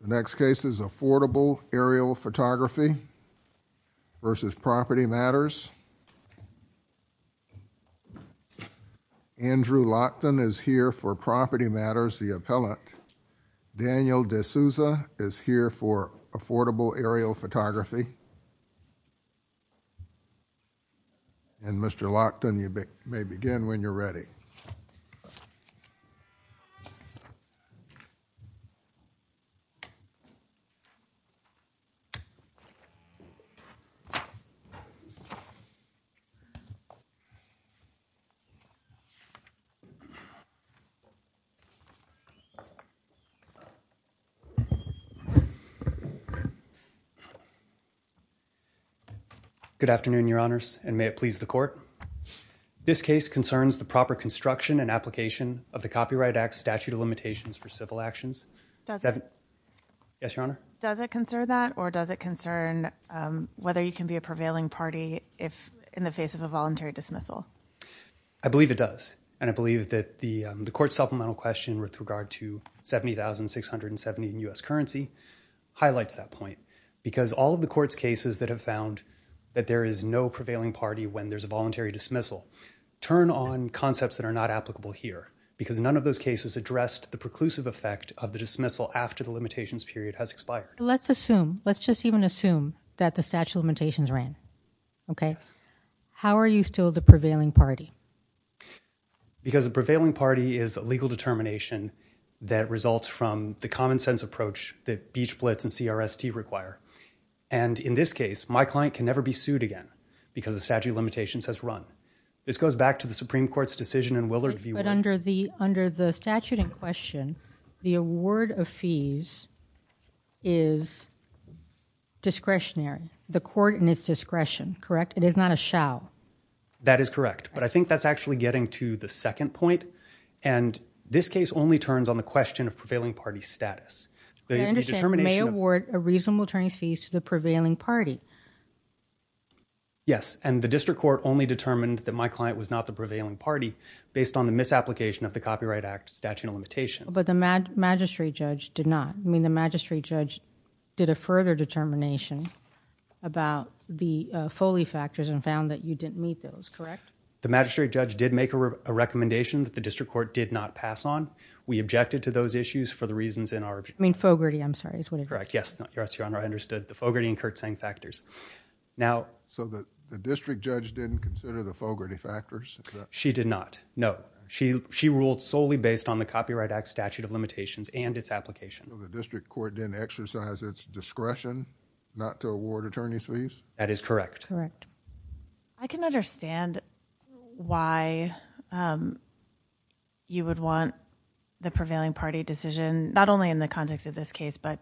The next case is Affordable Aerial Photography v. Property Matters. Andrew Lochtan is here for Property Matters, the appellant. Daniel D'Souza is here for Affordable Aerial Photography. And Mr. Lochtan, you may begin when you're ready. Good afternoon, your honors, and may it please the court. This case concerns the proper construction and application of the Copyright Act statute of limitations for civil actions. Does it concern that or does it concern whether you can be a prevailing party if in the face of a voluntary dismissal? I believe it does and I believe that the the court supplemental question with regard to 70,670 in U.S. currency highlights that point because all of the court's cases that have found that there is no prevailing party when there's a voluntary dismissal. Turn on concepts that are not applicable here because none of those cases addressed the preclusive effect of the dismissal after the limitations period has expired. Let's assume, let's just even assume, that the statute of limitations ran, okay? How are you still the prevailing party? Because a prevailing party is a legal determination that results from the And in this case, my client can never be sued again because the statute of limitations has run. This goes back to the Supreme Court's decision in Willard v. Warren. But under the statute in question, the award of fees is discretionary. The court in its discretion, correct? It is not a shall. That is correct, but I think that's actually getting to the second point and this case only turns on the question of prevailing party status. The determination of... You may award a reasonable attorney's fees to the prevailing party. Yes, and the district court only determined that my client was not the prevailing party based on the misapplication of the Copyright Act statute of limitations. But the magistrate judge did not. I mean, the magistrate judge did a further determination about the Foley factors and found that you didn't meet those, correct? The magistrate judge did make a recommendation that the district court did not pass on. We objected to those issues for the reasons in our... I mean I trust you, Your Honor, I understood the Fogarty and Kurtzsang factors. So the district judge didn't consider the Fogarty factors? She did not, no. She ruled solely based on the Copyright Act statute of limitations and its application. So the district court didn't exercise its discretion not to award attorney's fees? That is correct. I can understand why you would want the prevailing party decision, not only in the context of this case, but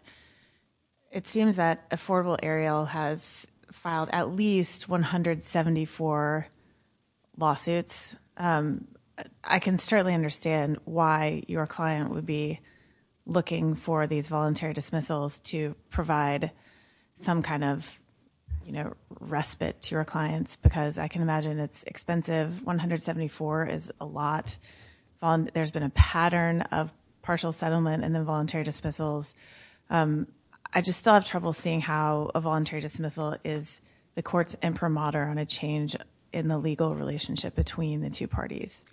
it seems that Affordable Ariel has filed at least 174 lawsuits. I can certainly understand why your client would be looking for these voluntary dismissals to provide some kind of respite to your clients, because I can imagine it's expensive. 174 is a lot. There's been a lot of voluntary dismissals. I just still have trouble seeing how a voluntary dismissal is the court's imprimatur on a change in the legal relationship between the two parties.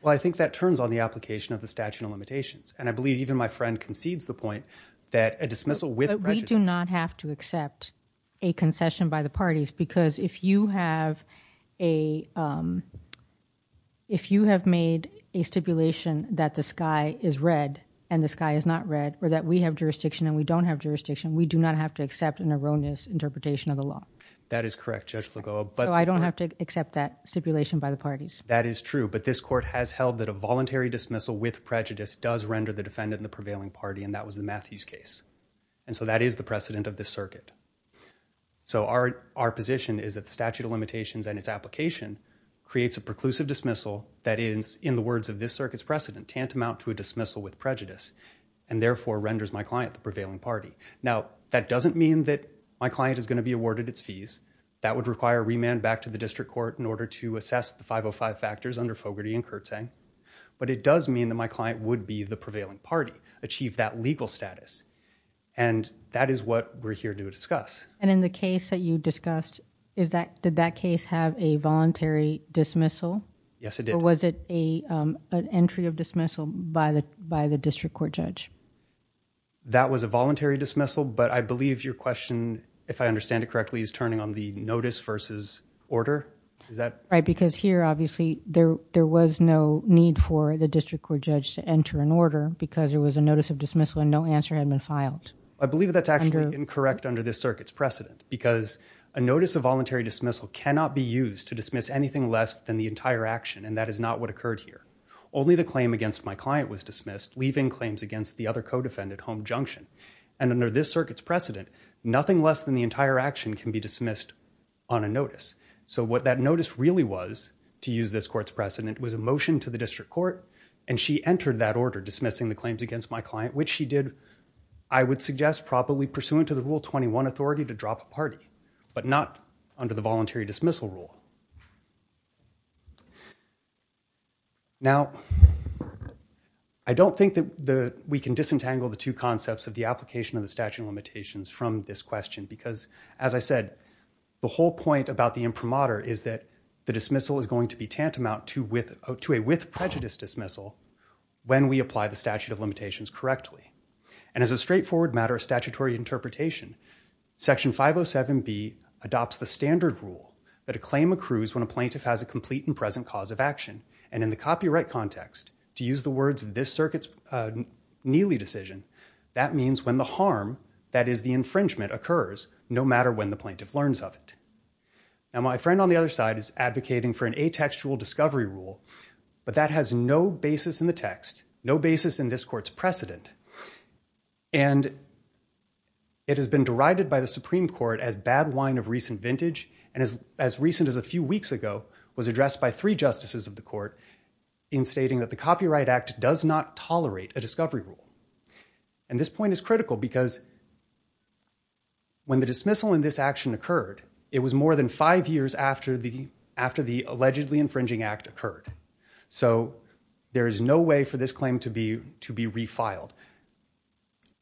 Well, I think that turns on the application of the statute of limitations, and I believe even my friend concedes the point that a dismissal with... We do not have to accept a concession by the parties, because if you have made a stipulation that the sky is red and the sky is not red, or that we have jurisdiction and we don't have jurisdiction, we do not have to accept an erroneous interpretation of the law. That is correct, Judge Lagoa. So I don't have to accept that stipulation by the parties? That is true, but this court has held that a voluntary dismissal with prejudice does render the defendant in the prevailing party, and that was the Matthews case. And so that is the precedent of this circuit. So our position is that the statute of limitations and its application creates a preclusive dismissal that is, in the words of this circuit's precedent, tantamount to a dismissal with prejudice, and therefore renders my client the prevailing party. Now, that doesn't mean that my client is going to be awarded its fees. That would require remand back to the district court in order to assess the 505 factors under Fogarty and Kurtzang, but it does mean that my client would be the prevailing party, achieve that legal status, and that is what we're here to discuss. And in the case that you discussed, did that case have a voluntary dismissal? Yes, it did. Was it an entry of dismissal by the district court judge? That was a voluntary dismissal, but I believe your question, if I understand it correctly, is turning on the notice versus order. Is that right? Because here, obviously, there was no need for the district court judge to enter an order because there was a notice of dismissal and no answer had been filed. I believe that's actually incorrect under this circuit's precedent because a notice of voluntary dismissal cannot be used to dismiss anything less than the entire action, and that is not what occurred here. Only the claim against my client was dismissed, leaving claims against the other co-defendant, Home Junction, and under this circuit's precedent, nothing less than the entire action can be dismissed on a notice. So what that notice really was, to use this court's precedent, was a motion to the district court and she entered that order dismissing the claims against my client, which she did, I would suggest, probably pursuant to the Rule 21 authority to Now, I don't think that we can disentangle the two concepts of the application of the statute of limitations from this question because, as I said, the whole point about the imprimatur is that the dismissal is going to be tantamount to a with prejudice dismissal when we apply the statute of limitations correctly, and as a straightforward matter of statutory interpretation, Section 507B adopts the standard rule that a claim accrues when a plaintiff has a complete and present cause of action, and in the copyright context, to use the words of this circuit's Neely decision, that means when the harm, that is the infringement, occurs no matter when the plaintiff learns of it. Now, my friend on the other side is advocating for an atextual discovery rule, but that has no basis in the text, no basis in this court's precedent, and it has been derided by the Supreme Court as bad wine of recent vintage, and as recent as a few weeks ago, was addressed by three justices of the court in stating that the Copyright Act does not tolerate a discovery rule, and this point is critical because when the dismissal in this action occurred, it was more than five years after the allegedly infringing act occurred, so there is no way for this claim to be refiled.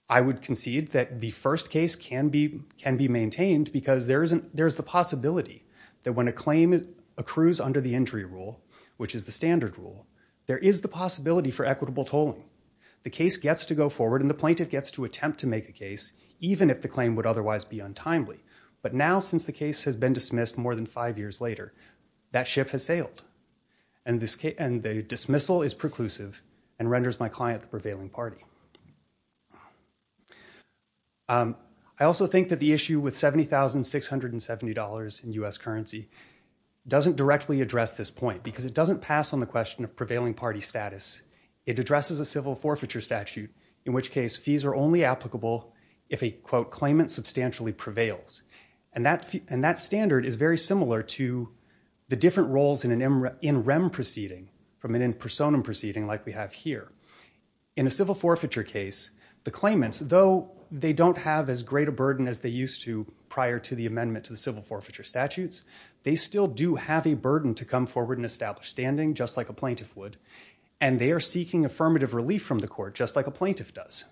I would concede that the first case can be maintained because there's the possibility that when a claim accrues under the Injury Rule, which is the standard rule, there is the possibility for equitable tolling. The case gets to go forward, and the plaintiff gets to attempt to make a case, even if the claim would otherwise be untimely, but now since the case has been dismissed more than five years later, that ship has sailed, and the dismissal is preclusive and renders my client the prevailing party. I also think that the issue with $70,670 in U.S. currency doesn't directly address this point, because it doesn't pass on the question of prevailing party status. It addresses a civil forfeiture statute, in which case fees are only applicable if a claimant substantially prevails, and that standard is very similar to the different roles in an in rem proceeding from an in personam proceeding like we have here. In a civil forfeiture case, the claimants, though they don't have as great a burden as they used to prior to the amendment to the civil forfeiture statutes, they still do have a burden to come forward and establish standing, just like a plaintiff would, and they are seeking affirmative relief from the court, just like a plaintiff does.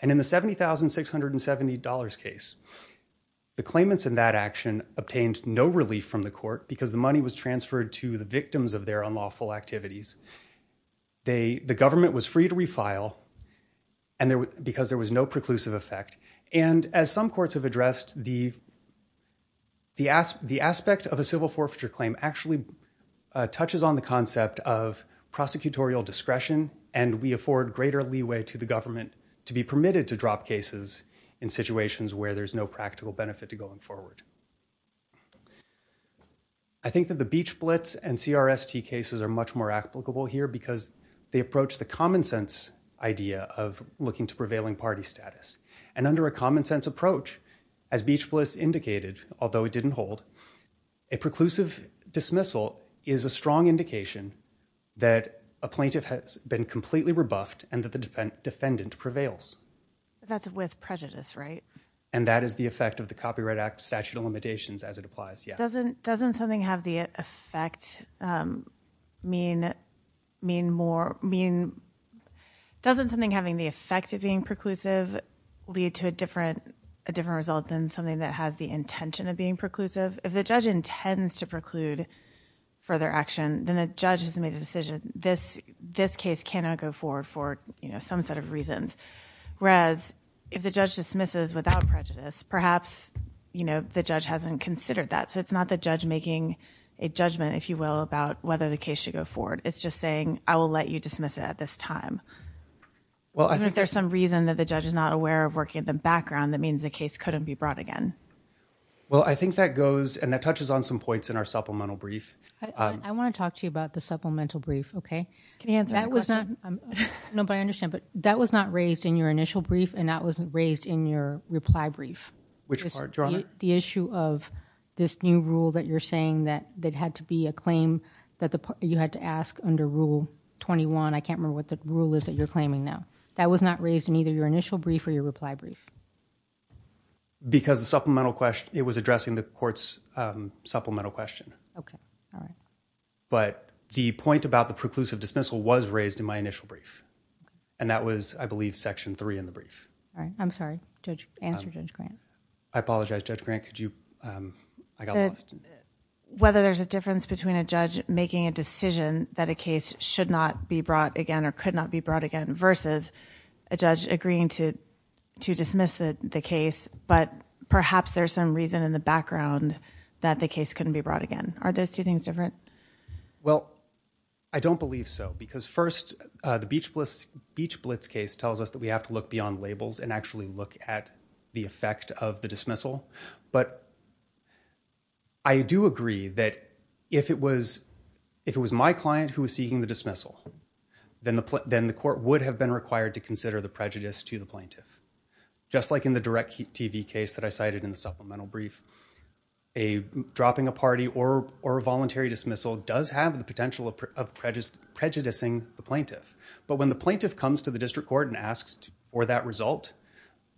And in the $70,670 case, the claimants in that action obtained no relief from the court because the money was transferred to the victims of their unlawful activities, and the government was free to refile because there was no preclusive effect. And as some courts have addressed, the aspect of a civil forfeiture claim actually touches on the concept of prosecutorial discretion, and we afford greater leeway to the government to be permitted to drop cases in situations where there's no practical benefit to going forward. I think that the Beach Blitz and CRST cases are much more applicable here because they approach the common sense idea of looking to prevailing party status, and under a common sense approach, as Beach Blitz indicated, although it didn't hold, a preclusive dismissal is a strong indication that a plaintiff has been completely rebuffed and that the defendant prevails. That's with prejudice, right? And that is the effect of the Copyright Act statute and limitations as it applies. Yeah. Doesn't something having the effect of being preclusive lead to a different result than something that has the intention of being preclusive? If the judge intends to preclude further action, then the judge has made a decision. This case cannot go forward for some set of reasons, whereas if the judge dismisses without prejudice, perhaps, you know, the judge hasn't considered that. So it's not the judge making a judgment, if you will, about whether the case should go forward. It's just saying, I will let you dismiss it at this time. Well, I think there's some reason that the judge is not aware of working at the background that means the case couldn't be brought again. Well, I think that goes, and that touches on some points in our supplemental brief. I want to talk to you about the supplemental brief, okay? Can you answer my question? No, but I understand, but that was not raised in your reply brief. Which part, Your Honor? The issue of this new rule that you're saying that had to be a claim that you had to ask under Rule 21. I can't remember what the rule is that you're claiming now. That was not raised in either your initial brief or your reply brief. Because the supplemental question, it was addressing the court's supplemental question. Okay. But the point about the preclusive dismissal was raised in my initial brief, and that was, I believe, Section 3 in the brief. I'm sorry. Answer Judge Grant. I apologize, Judge Grant. Could you? I got lost. Whether there's a difference between a judge making a decision that a case should not be brought again or could not be brought again versus a judge agreeing to dismiss the case, but perhaps there's some reason in the background that the case couldn't be brought again. Are those two things different? Well, I don't believe so. Because first, the Blitz case tells us that we have to look beyond labels and actually look at the effect of the dismissal. But I do agree that if it was my client who was seeking the dismissal, then the court would have been required to consider the prejudice to the plaintiff. Just like in the direct TV case that I cited in the supplemental brief, dropping a party or a voluntary dismissal does have the potential of prejudicing the plaintiff. But when the district court asks for that result,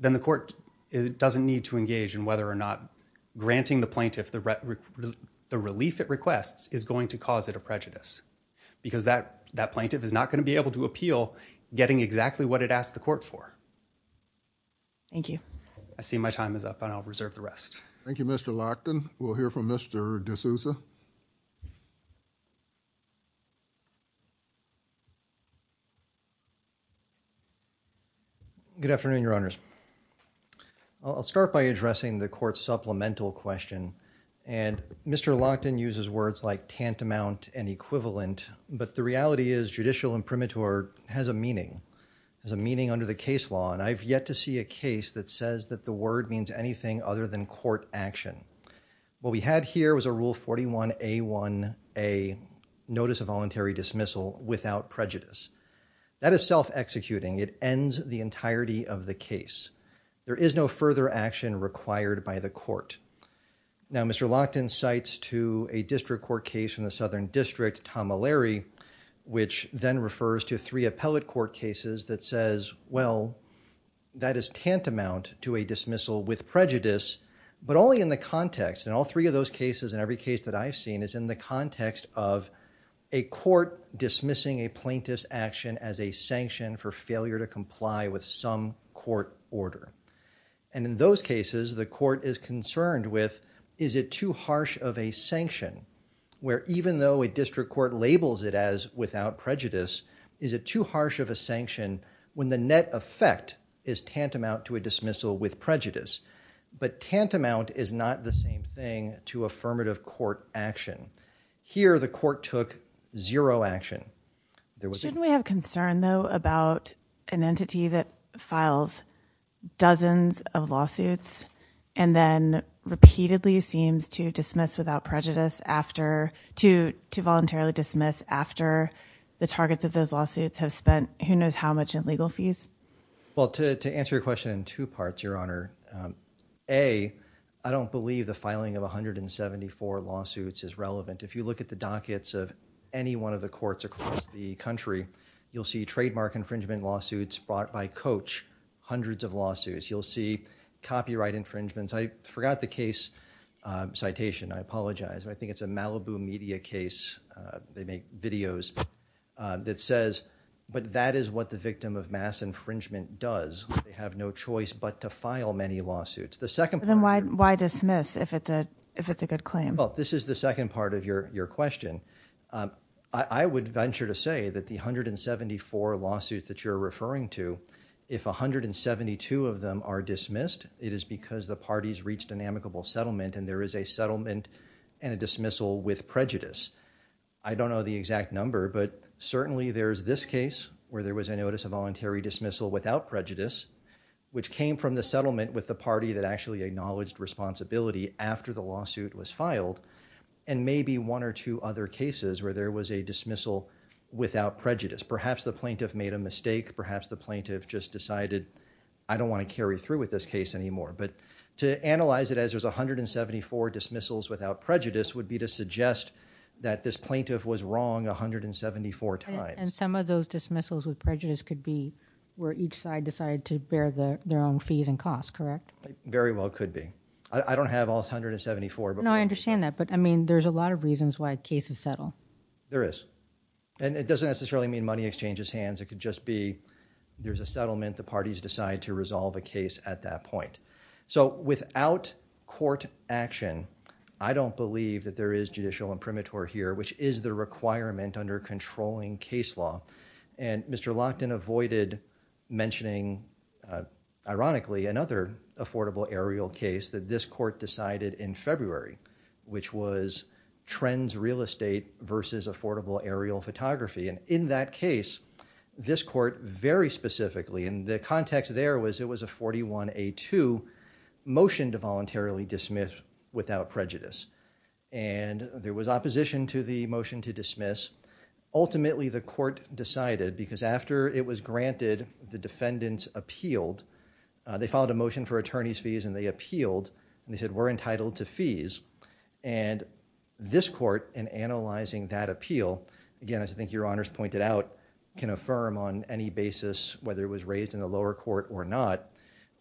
then the court doesn't need to engage in whether or not granting the plaintiff the relief it requests is going to cause it a prejudice. Because that plaintiff is not going to be able to appeal getting exactly what it asked the court for. Thank you. I see my time is up and I'll reserve the rest. Thank you, Mr. Lochtan. We'll hear from Mr. D'Souza. Good afternoon, Your Honors. I'll start by addressing the court's supplemental question. And Mr. Lochtan uses words like tantamount and equivalent, but the reality is judicial imprimatur has a meaning. There's a meaning under the case law and I've yet to see a case that says that the word means anything other than court action. What we had here was a Rule 41a1a, notice of voluntary dismissal without prejudice. That is self-executing. It ends the entirety of the case. There is no further action required by the court. Now, Mr. Lochtan cites to a district court case in the Southern District, Tom O'Leary, which then refers to three appellate court cases that says, well, that is tantamount to a dismissal with prejudice, but only in the context and all three of those cases and every case that I've seen is in the context of a court dismissing a plaintiff's action as a sanction for failure to comply with some court order. And in those cases, the court is concerned with, is it too harsh of a sanction where even though a district court labels it as without prejudice, is it too harsh of a sanction when the net effect is tantamount to a dismissal with affirmative court action? Here, the court took zero action. Shouldn't we have concern though about an entity that files dozens of lawsuits and then repeatedly seems to dismiss without prejudice after, to voluntarily dismiss after the targets of those lawsuits have spent who knows how much in legal fees? Well, to answer your question in two parts, Your Honor, A, I don't believe the 174 lawsuits is relevant. If you look at the dockets of any one of the courts across the country, you'll see trademark infringement lawsuits brought by coach, hundreds of lawsuits. You'll see copyright infringements. I forgot the case citation. I apologize. I think it's a Malibu media case. They make videos that says, but that is what the victim of mass infringement does. They have no choice but to file many lawsuits. The second part... Then why dismiss if it's a good claim? Well, this is the second part of your question. I would venture to say that the 174 lawsuits that you're referring to, if 172 of them are dismissed, it is because the parties reached an amicable settlement and there is a settlement and a dismissal with prejudice. I don't know the exact number, but certainly there's this case where there was a notice of voluntary dismissal without prejudice, which came from the plaintiff actually acknowledged responsibility after the lawsuit was filed, and maybe one or two other cases where there was a dismissal without prejudice. Perhaps the plaintiff made a mistake. Perhaps the plaintiff just decided, I don't want to carry through with this case anymore. But to analyze it as there's 174 dismissals without prejudice would be to suggest that this plaintiff was wrong 174 times. And some of those dismissals with prejudice could be where each side decided to bear their own fees and costs, correct? Very well could be. I don't have all 174, but... No, I understand that. But I mean, there's a lot of reasons why cases settle. There is. And it doesn't necessarily mean money exchanges hands. It could just be there's a settlement. The parties decide to resolve a case at that point. So without court action, I don't believe that there is judicial imprimatur here, which is the requirement under controlling case law. And Mr. Lochtan avoided mentioning, ironically, another affordable aerial case that this court decided in February, which was Trends Real Estate versus Affordable Aerial Photography. And in that case, this court very specifically, and the context there was it was a 41A2 motion to voluntarily dismiss without prejudice. And there was opposition to the motion to dismiss. Ultimately, the court decided, because after it was granted, the defendants appealed, they filed a motion for attorney's fees and they appealed. They said, we're entitled to fees. And this court, in analyzing that appeal, again, as I think your Honors pointed out, can affirm on any basis whether it was raised in the lower court or not,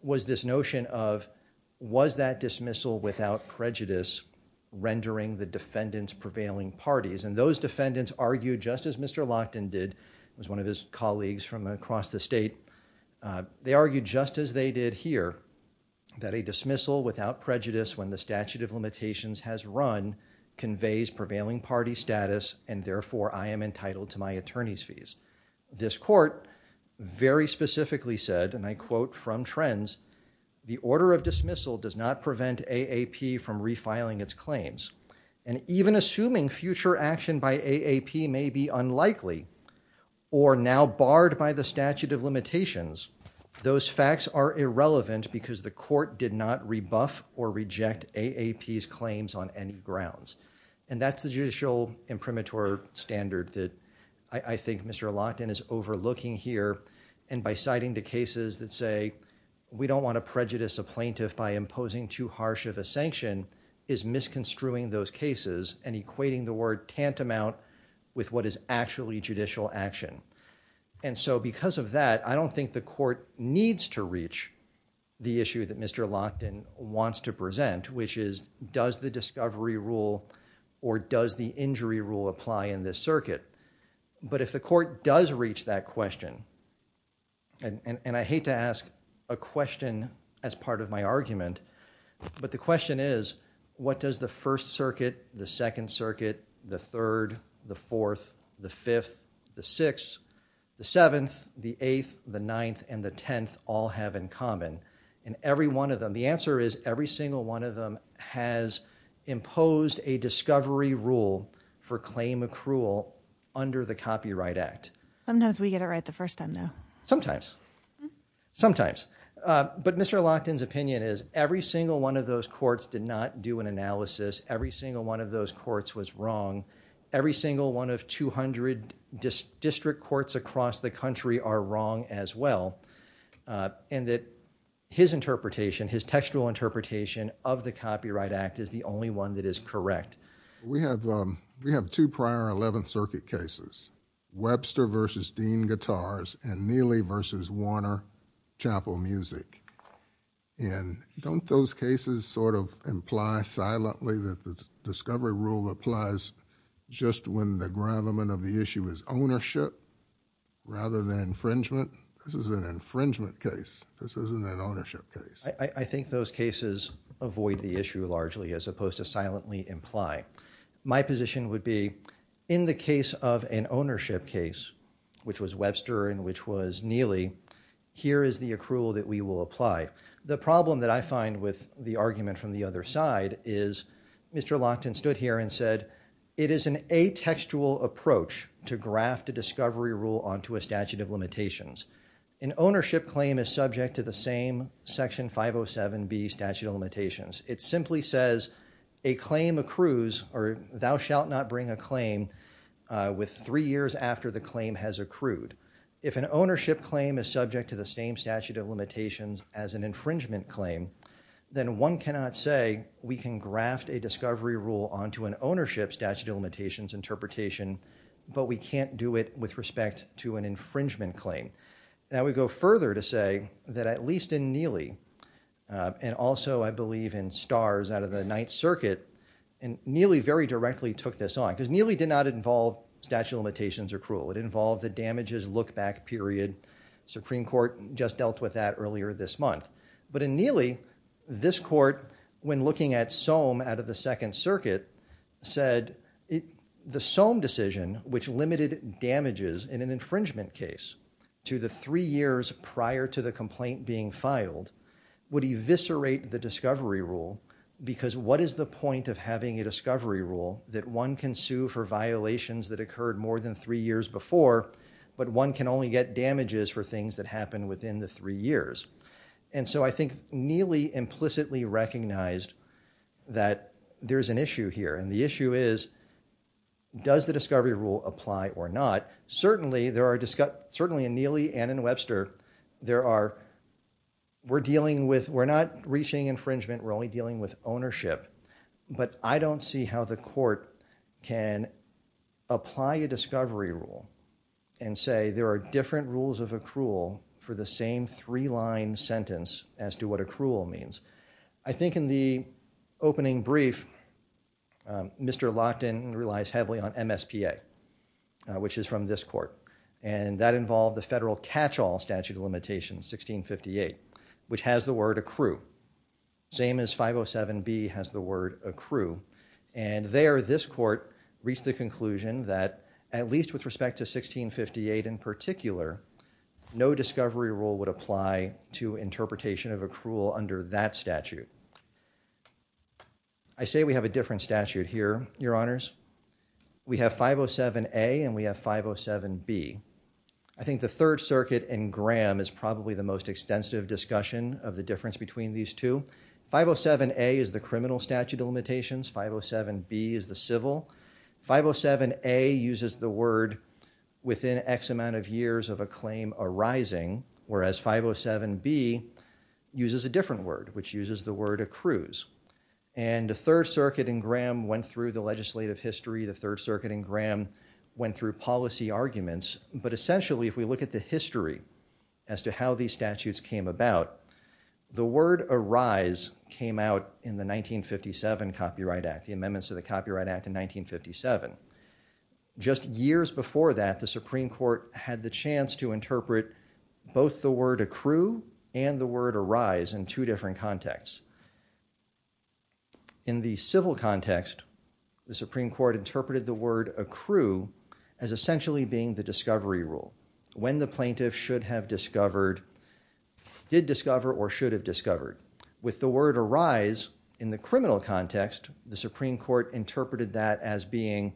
was this notion of was that dismissal without prejudice rendering the defendants prevailing parties? And those defendants argued, just as Mr. Lochtan did, as one of his colleagues from across the state, they argued just as they did here, that a dismissal without prejudice when the statute of limitations has run conveys prevailing party status and therefore, I am entitled to my attorney's fees. This court very specifically said, and I quote from Trends, the order of dismissal does not prevent AAP from refiling its claims. And even assuming future action by AAP may be unlikely or now barred by the statute of limitations, those facts are irrelevant because the court did not rebuff or reject AAP's claims on any grounds. And that's the judicial imprimatur standard that I think Mr. Lochtan is overlooking here. And by citing the cases that say, we don't want to prejudice a plaintiff by misconstruing those cases and equating the word tantamount with what is actually judicial action. And so because of that, I don't think the court needs to reach the issue that Mr. Lochtan wants to present, which is does the discovery rule or does the injury rule apply in this circuit? But if the court does reach that question, and I hate to ask a question as part of my argument, but the question is, what does the First Circuit, the Second Circuit, the Third, the Fourth, the Fifth, the Sixth, the Seventh, the Eighth, the Ninth, and the Tenth all have in common? And every one of them, the answer is every single one of them has imposed a discovery rule for claim accrual under the Copyright Act. Sometimes we get it right the first time, though. Sometimes. Sometimes. But Mr. Lochtan's opinion is every single one of those courts did not do an analysis. Every single one of those courts was wrong. Every single one of two hundred district courts across the country are wrong as well, and that his interpretation, his textual interpretation of the Copyright Act is the only one that is correct. We have two prior Eleventh Circuit cases, Webster versus Dean Guitars and Music, and don't those cases sort of imply silently that the discovery rule applies just when the gravamen of the issue is ownership rather than infringement? This is an infringement case. This isn't an ownership case. I think those cases avoid the issue largely as opposed to silently imply. My position would be in the case of an ownership case, which was Webster and which was Neely, here is the accrual that we will apply. The problem that I find with the argument from the other side is Mr. Lochtan stood here and said it is an atextual approach to graft a discovery rule onto a statute of limitations. An ownership claim is subject to the same Section 507B statute of limitations. It simply says a claim accrues or thou shalt not bring a claim with three years after the claim has accrued. If an ownership claim is subject to the same statute of limitations as an infringement claim, then one cannot say we can graft a discovery rule onto an ownership statute of limitations interpretation, but we can't do it with respect to an infringement claim. I would go further to say that at least in Neely, and also I believe in Starrs out of the Ninth Circuit, and Neely very directly took this on, because Neely did not involve statute of limitations accrual. It involved the damages look-back period. Supreme Court just dealt with that earlier this month, but in Neely, this court, when looking at Soam out of the Second Circuit, said the Soam decision, which limited damages in an infringement case to the three years prior to the complaint being filed, would eviscerate the discovery rule because what is the point of having a discovery rule that one can sue for violations that occurred more than three years before, but one can only get damages for things that happen within the three years. And so I think Neely implicitly recognized that there's an issue here. And the issue is, does the discovery rule apply or not? Certainly in Neely and in Webster, we're not reaching infringement. We're only dealing with ownership, but I don't see how the court can apply a discovery rule and say there are different rules of accrual for the same three-line sentence as to what accrual means. I think in the opening brief, Mr. Lockton relies heavily on MSPA, which is from this court, and that involved the federal catch-all statute of limitations, 1658, which has the word accrue. Same as 507B has the word accrue. And there, this court reached the conclusion that at least with respect to 1658 in particular, no discovery rule would apply to interpretation of accrual under that statute. I say we have a different statute here, Your Honors. We have 507A and we have 507B. I think the Third Circuit and Graham is probably the most extensive discussion of the difference between these two. 507A is the criminal statute of limitations. 507B is the civil. 507A uses the word within X amount of years of a claim arising, whereas 507B uses a different word, which uses the word accrues. And the Third Circuit and Graham went through the legislative history. The Third Circuit and Graham went through policy arguments. But essentially, if we look at the history as to how these statutes came about, the word arise came out in the 1957 Copyright Act, the amendments to the Copyright Act in 1957. Just years before that, the Supreme Court had the chance to interpret both the word accrue and the word arise in two different contexts. In the civil context, the Supreme Court interpreted the word accrue as essentially being the discovery rule. When the plaintiff should have discovered, did discover or should have discovered, with the word arise in the criminal context, the Supreme Court interpreted that as being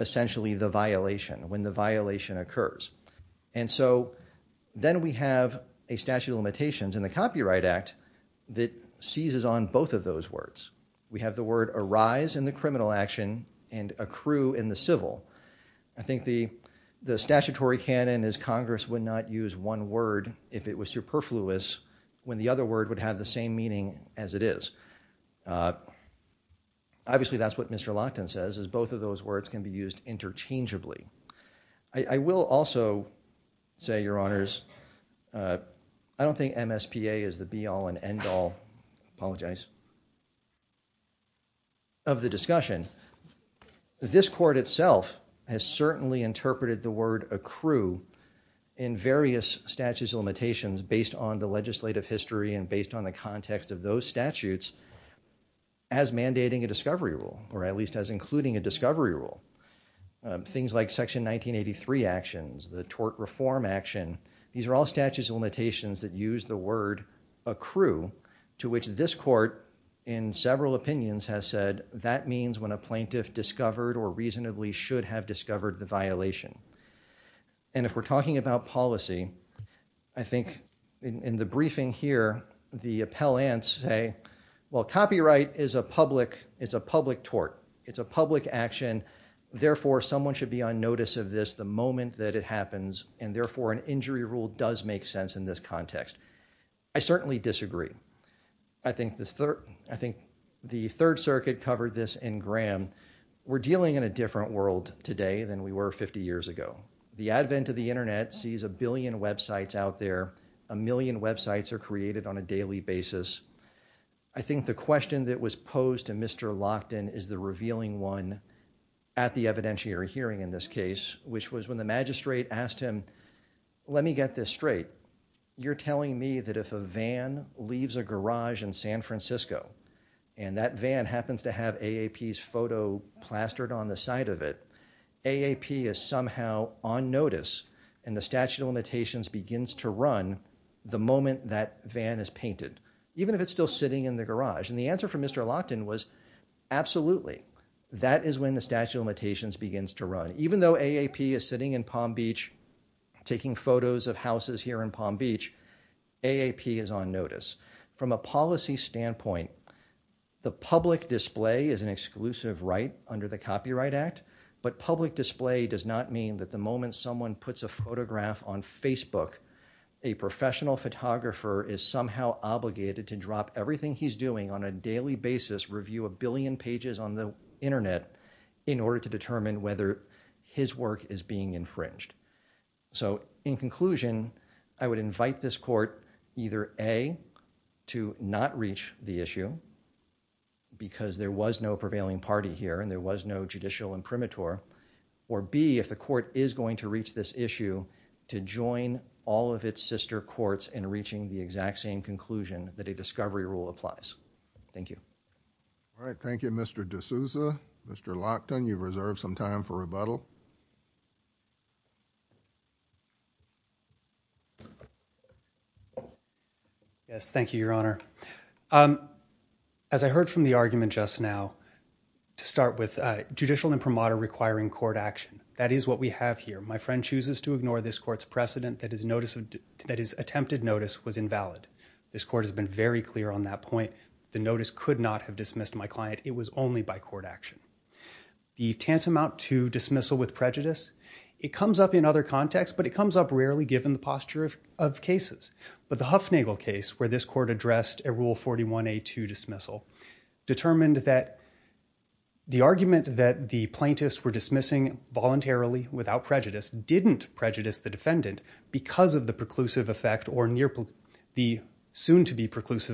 essentially the violation, when the violation occurs. And so then we have a statute of limitations in the Copyright Act that seizes on both of those words. We have the word arise in the criminal action and accrue in the civil. I think the statutory canon is Congress would not use one word if it was superfluous when the other word would have the same meaning as it is. Obviously, that's what Mr. Lochtin says, is both of those words can be used interchangeably. I will also say, Your Honors, I don't think MSPA is the be-all and end-all, I apologize, of the discussion. This court itself has certainly interpreted the word accrue in various statutes of limitations based on the legislative history and based on the context of those statutes as mandating a discovery rule, or at least as including a discovery rule, things like Section 1983 actions, the tort reform action, these are all statutes of limitations that use the word accrue, to which this court in several opinions has said that means when a plaintiff discovered or reasonably should have discovered the violation. And if we're talking about policy, I think in the briefing here, the appellants say, well, copyright is a public tort, it's a public action. Therefore, someone should be on notice of this the moment that it happens, and therefore an injury rule does make sense in this context. I certainly disagree. I think the Third Circuit covered this in Graham. We're dealing in a different world today than we were 50 years ago. The advent of the internet sees a billion websites out there, a million websites are created on a daily basis. I think the question that was posed to Mr. Lochtin is the revealing one at the evidentiary hearing in this case, which was when the magistrate asked him, let me get this straight, you're telling me that if a van leaves a garage in San Francisco, and that van happens to have AAP's photo plastered on the side of it, AAP is somehow on notice and the statute of limitations begins to run the moment that van is painted, even if it's still sitting in the garage. And the answer from Mr. Lochtin was absolutely. That is when the statute of limitations begins to run. Even though AAP is sitting in Palm Beach taking photos of houses here in Palm Beach, AAP is on notice. From a policy standpoint, the public display is an exclusive right under the Copyright Act, but public display does not mean that the moment someone puts a photograph on Facebook, a professional photographer is somehow obligated to drop everything he's doing on a daily basis, review a billion pages on the internet in order to determine whether his work is being infringed. So in conclusion, I would invite this court either A, to not reach the issue, because there was no prevailing party here and there was no judicial imprimatur, or B, if the court is going to reach this issue, to join all of its sister courts in reaching the exact same conclusion that a discovery rule applies. Thank you. All right. Thank you, Mr. D'Souza. Mr. Lochtin, you've reserved some time for rebuttal. Yes, thank you, Your Honor. Um, as I heard from the argument just now, to start with, uh, judicial imprimatur requiring court action. That is what we have here. My friend chooses to ignore this court's precedent that his notice of, that his attempted notice was invalid. This court has been very clear on that point. The notice could not have dismissed my client. It was only by court action. The tantamount to dismissal with prejudice, it comes up in other contexts, but it comes up rarely given the posture of, of cases. But the Huffnagle case, where this court addressed a rule 41A to dismissal, determined that the argument that the plaintiffs were dismissing voluntarily without prejudice, didn't prejudice the defendant because of the preclusive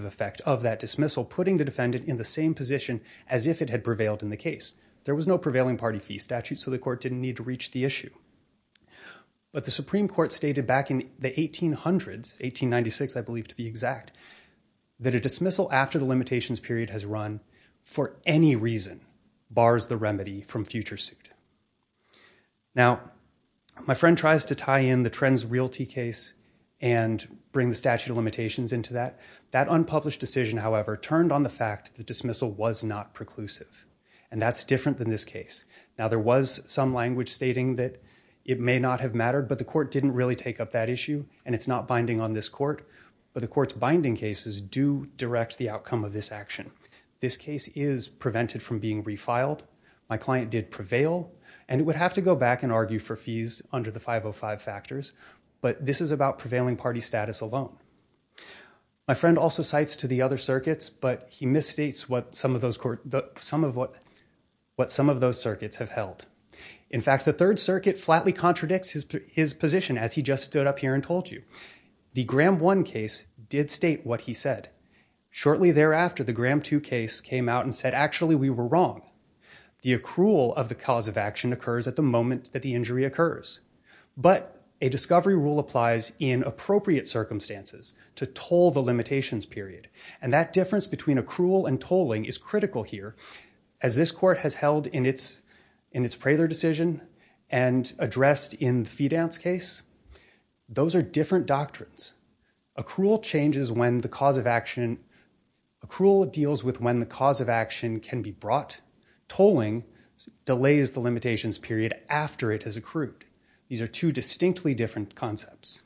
effect of that dismissal, putting the defendant in the same position as if it had prevailed in the case. There was no prevailing party fee statute. So the court didn't need to reach the issue, but the Supreme court stated back in the 1800s, 1896, I believe to be exact, that a dismissal after the limitations period has run for any reason, bars the remedy from future suit. Now, my friend tries to tie in the trends realty case and bring the statute of limitations into that. That unpublished decision, however, turned on the fact that dismissal was not preclusive. And that's different than this case. Now there was some language stating that it may not have mattered, but the court didn't really take up that issue and it's not binding on this court, but the court's binding cases do direct the outcome of this action. This case is prevented from being refiled. My client did prevail and it would have to go back and argue for fees under the 505 factors. But this is about prevailing party status alone. My friend also cites to the other circuits, but he misstates what some of those court, some of what, what some of those circuits have held. In fact, the third circuit flatly contradicts his position as he just stood up here and told you. The Graham one case did state what he said. Shortly thereafter, the Graham two case came out and said, actually we were wrong. The accrual of the cause of action occurs at the moment that the injury occurs, but a discovery rule applies in appropriate circumstances to toll the limitations period, and that difference between accrual and tolling is critical here. As this court has held in its, in its Praylor decision and addressed in Fidan's case, those are different doctrines. Accrual changes when the cause of action, accrual deals with when the cause of action can be brought. Tolling delays the limitations period after it has accrued. These are two distinctly different concepts.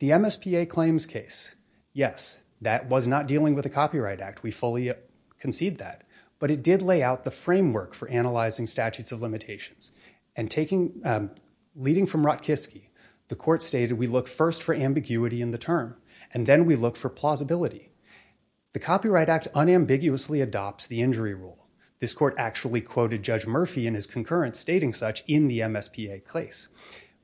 The MSPA claims case. Yes, that was not dealing with a copyright act. We fully concede that, but it did lay out the framework for analyzing statutes of limitations. And taking, um, leading from Rotkiski, the court stated, we look first for ambiguity in the term. And then we look for plausibility. The Copyright Act unambiguously adopts the injury rule. This court actually quoted judge Murphy in his concurrence, stating such in the MSPA case.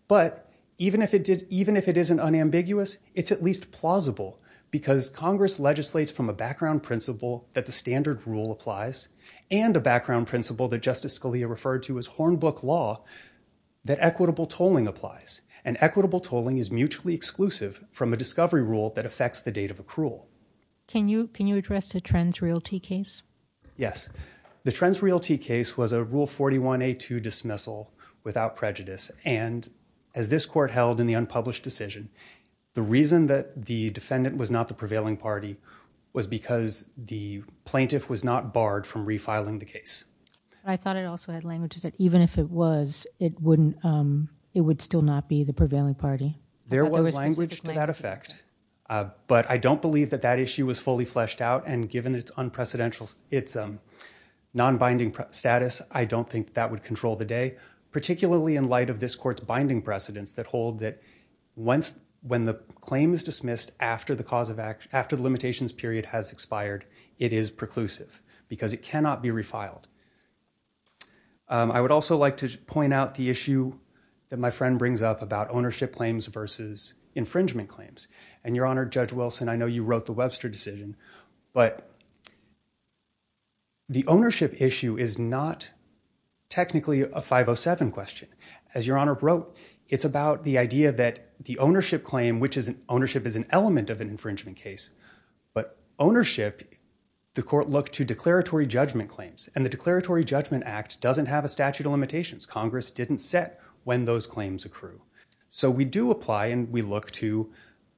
But even if it did, even if it isn't unambiguous, it's at least plausible because Congress legislates from a background principle that the standard rule applies and a background principle that justice Scalia referred to as Hornbook law, that equitable tolling applies and equitable tolling is mutually exclusive from a discovery rule that affects the date of accrual. Can you, can you address the Trens Realty case? Yes. The Trens Realty case was a rule 41A2 dismissal without prejudice. And as this court held in the unpublished decision, the reason that the defendant was not the prevailing party was because the plaintiff was not barred from refiling the case. I thought it also had languages that even if it was, it wouldn't, um, it would still not be the prevailing party. There was language to that effect. Uh, but I don't believe that that issue was fully fleshed out. And given that it's unprecedented, it's, um, non-binding status. I don't think that would control the day, particularly in light of this court's binding precedents that hold that once, when the claim is dismissed after the cause of action, after the limitations period has expired, it is preclusive because it cannot be refiled. Um, I would also like to point out the issue that my friend brings up about ownership claims versus infringement claims and your honor judge Wilson. And I know you wrote the Webster decision, but the ownership issue is not technically a 507 question. As your honor wrote, it's about the idea that the ownership claim, which is an ownership is an element of an infringement case, but ownership, the court looked to declaratory judgment claims and the declaratory judgment act doesn't have a statute of limitations. Congress didn't set when those claims accrue. So we do apply and we look to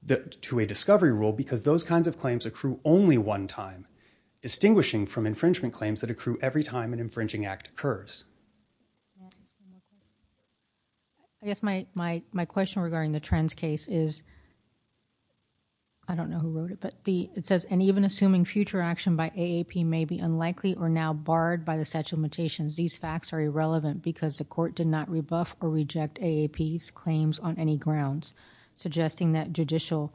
the, to a discovery rule because those kinds of claims accrue only one time distinguishing from infringement claims that accrue every time an infringing act occurs. I guess my, my, my question regarding the trends case is, I don't know who wrote it, but the, it says, and even assuming future action by AAP may be unlikely or now barred by the statute of limitations. These facts are irrelevant because the court did not rebuff or reject AAP's claims on any grounds, suggesting that judicial,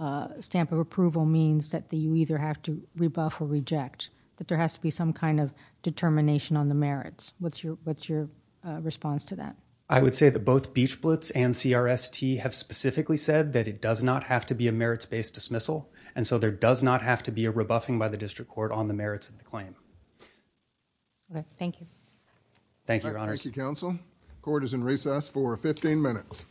uh, stamp of approval means that the, you either have to rebuff or reject, that there has to be some kind of determination on the merits. What's your, what's your response to that? I would say that both Beach Blitz and CRST have specifically said that it does not have to be a merits-based dismissal. And so there does not have to be a rebuffing by the district court on the merits of the claim. Okay. Thank you. Thank you, your honor. Thank you, counsel. Court is in recess for 15 minutes.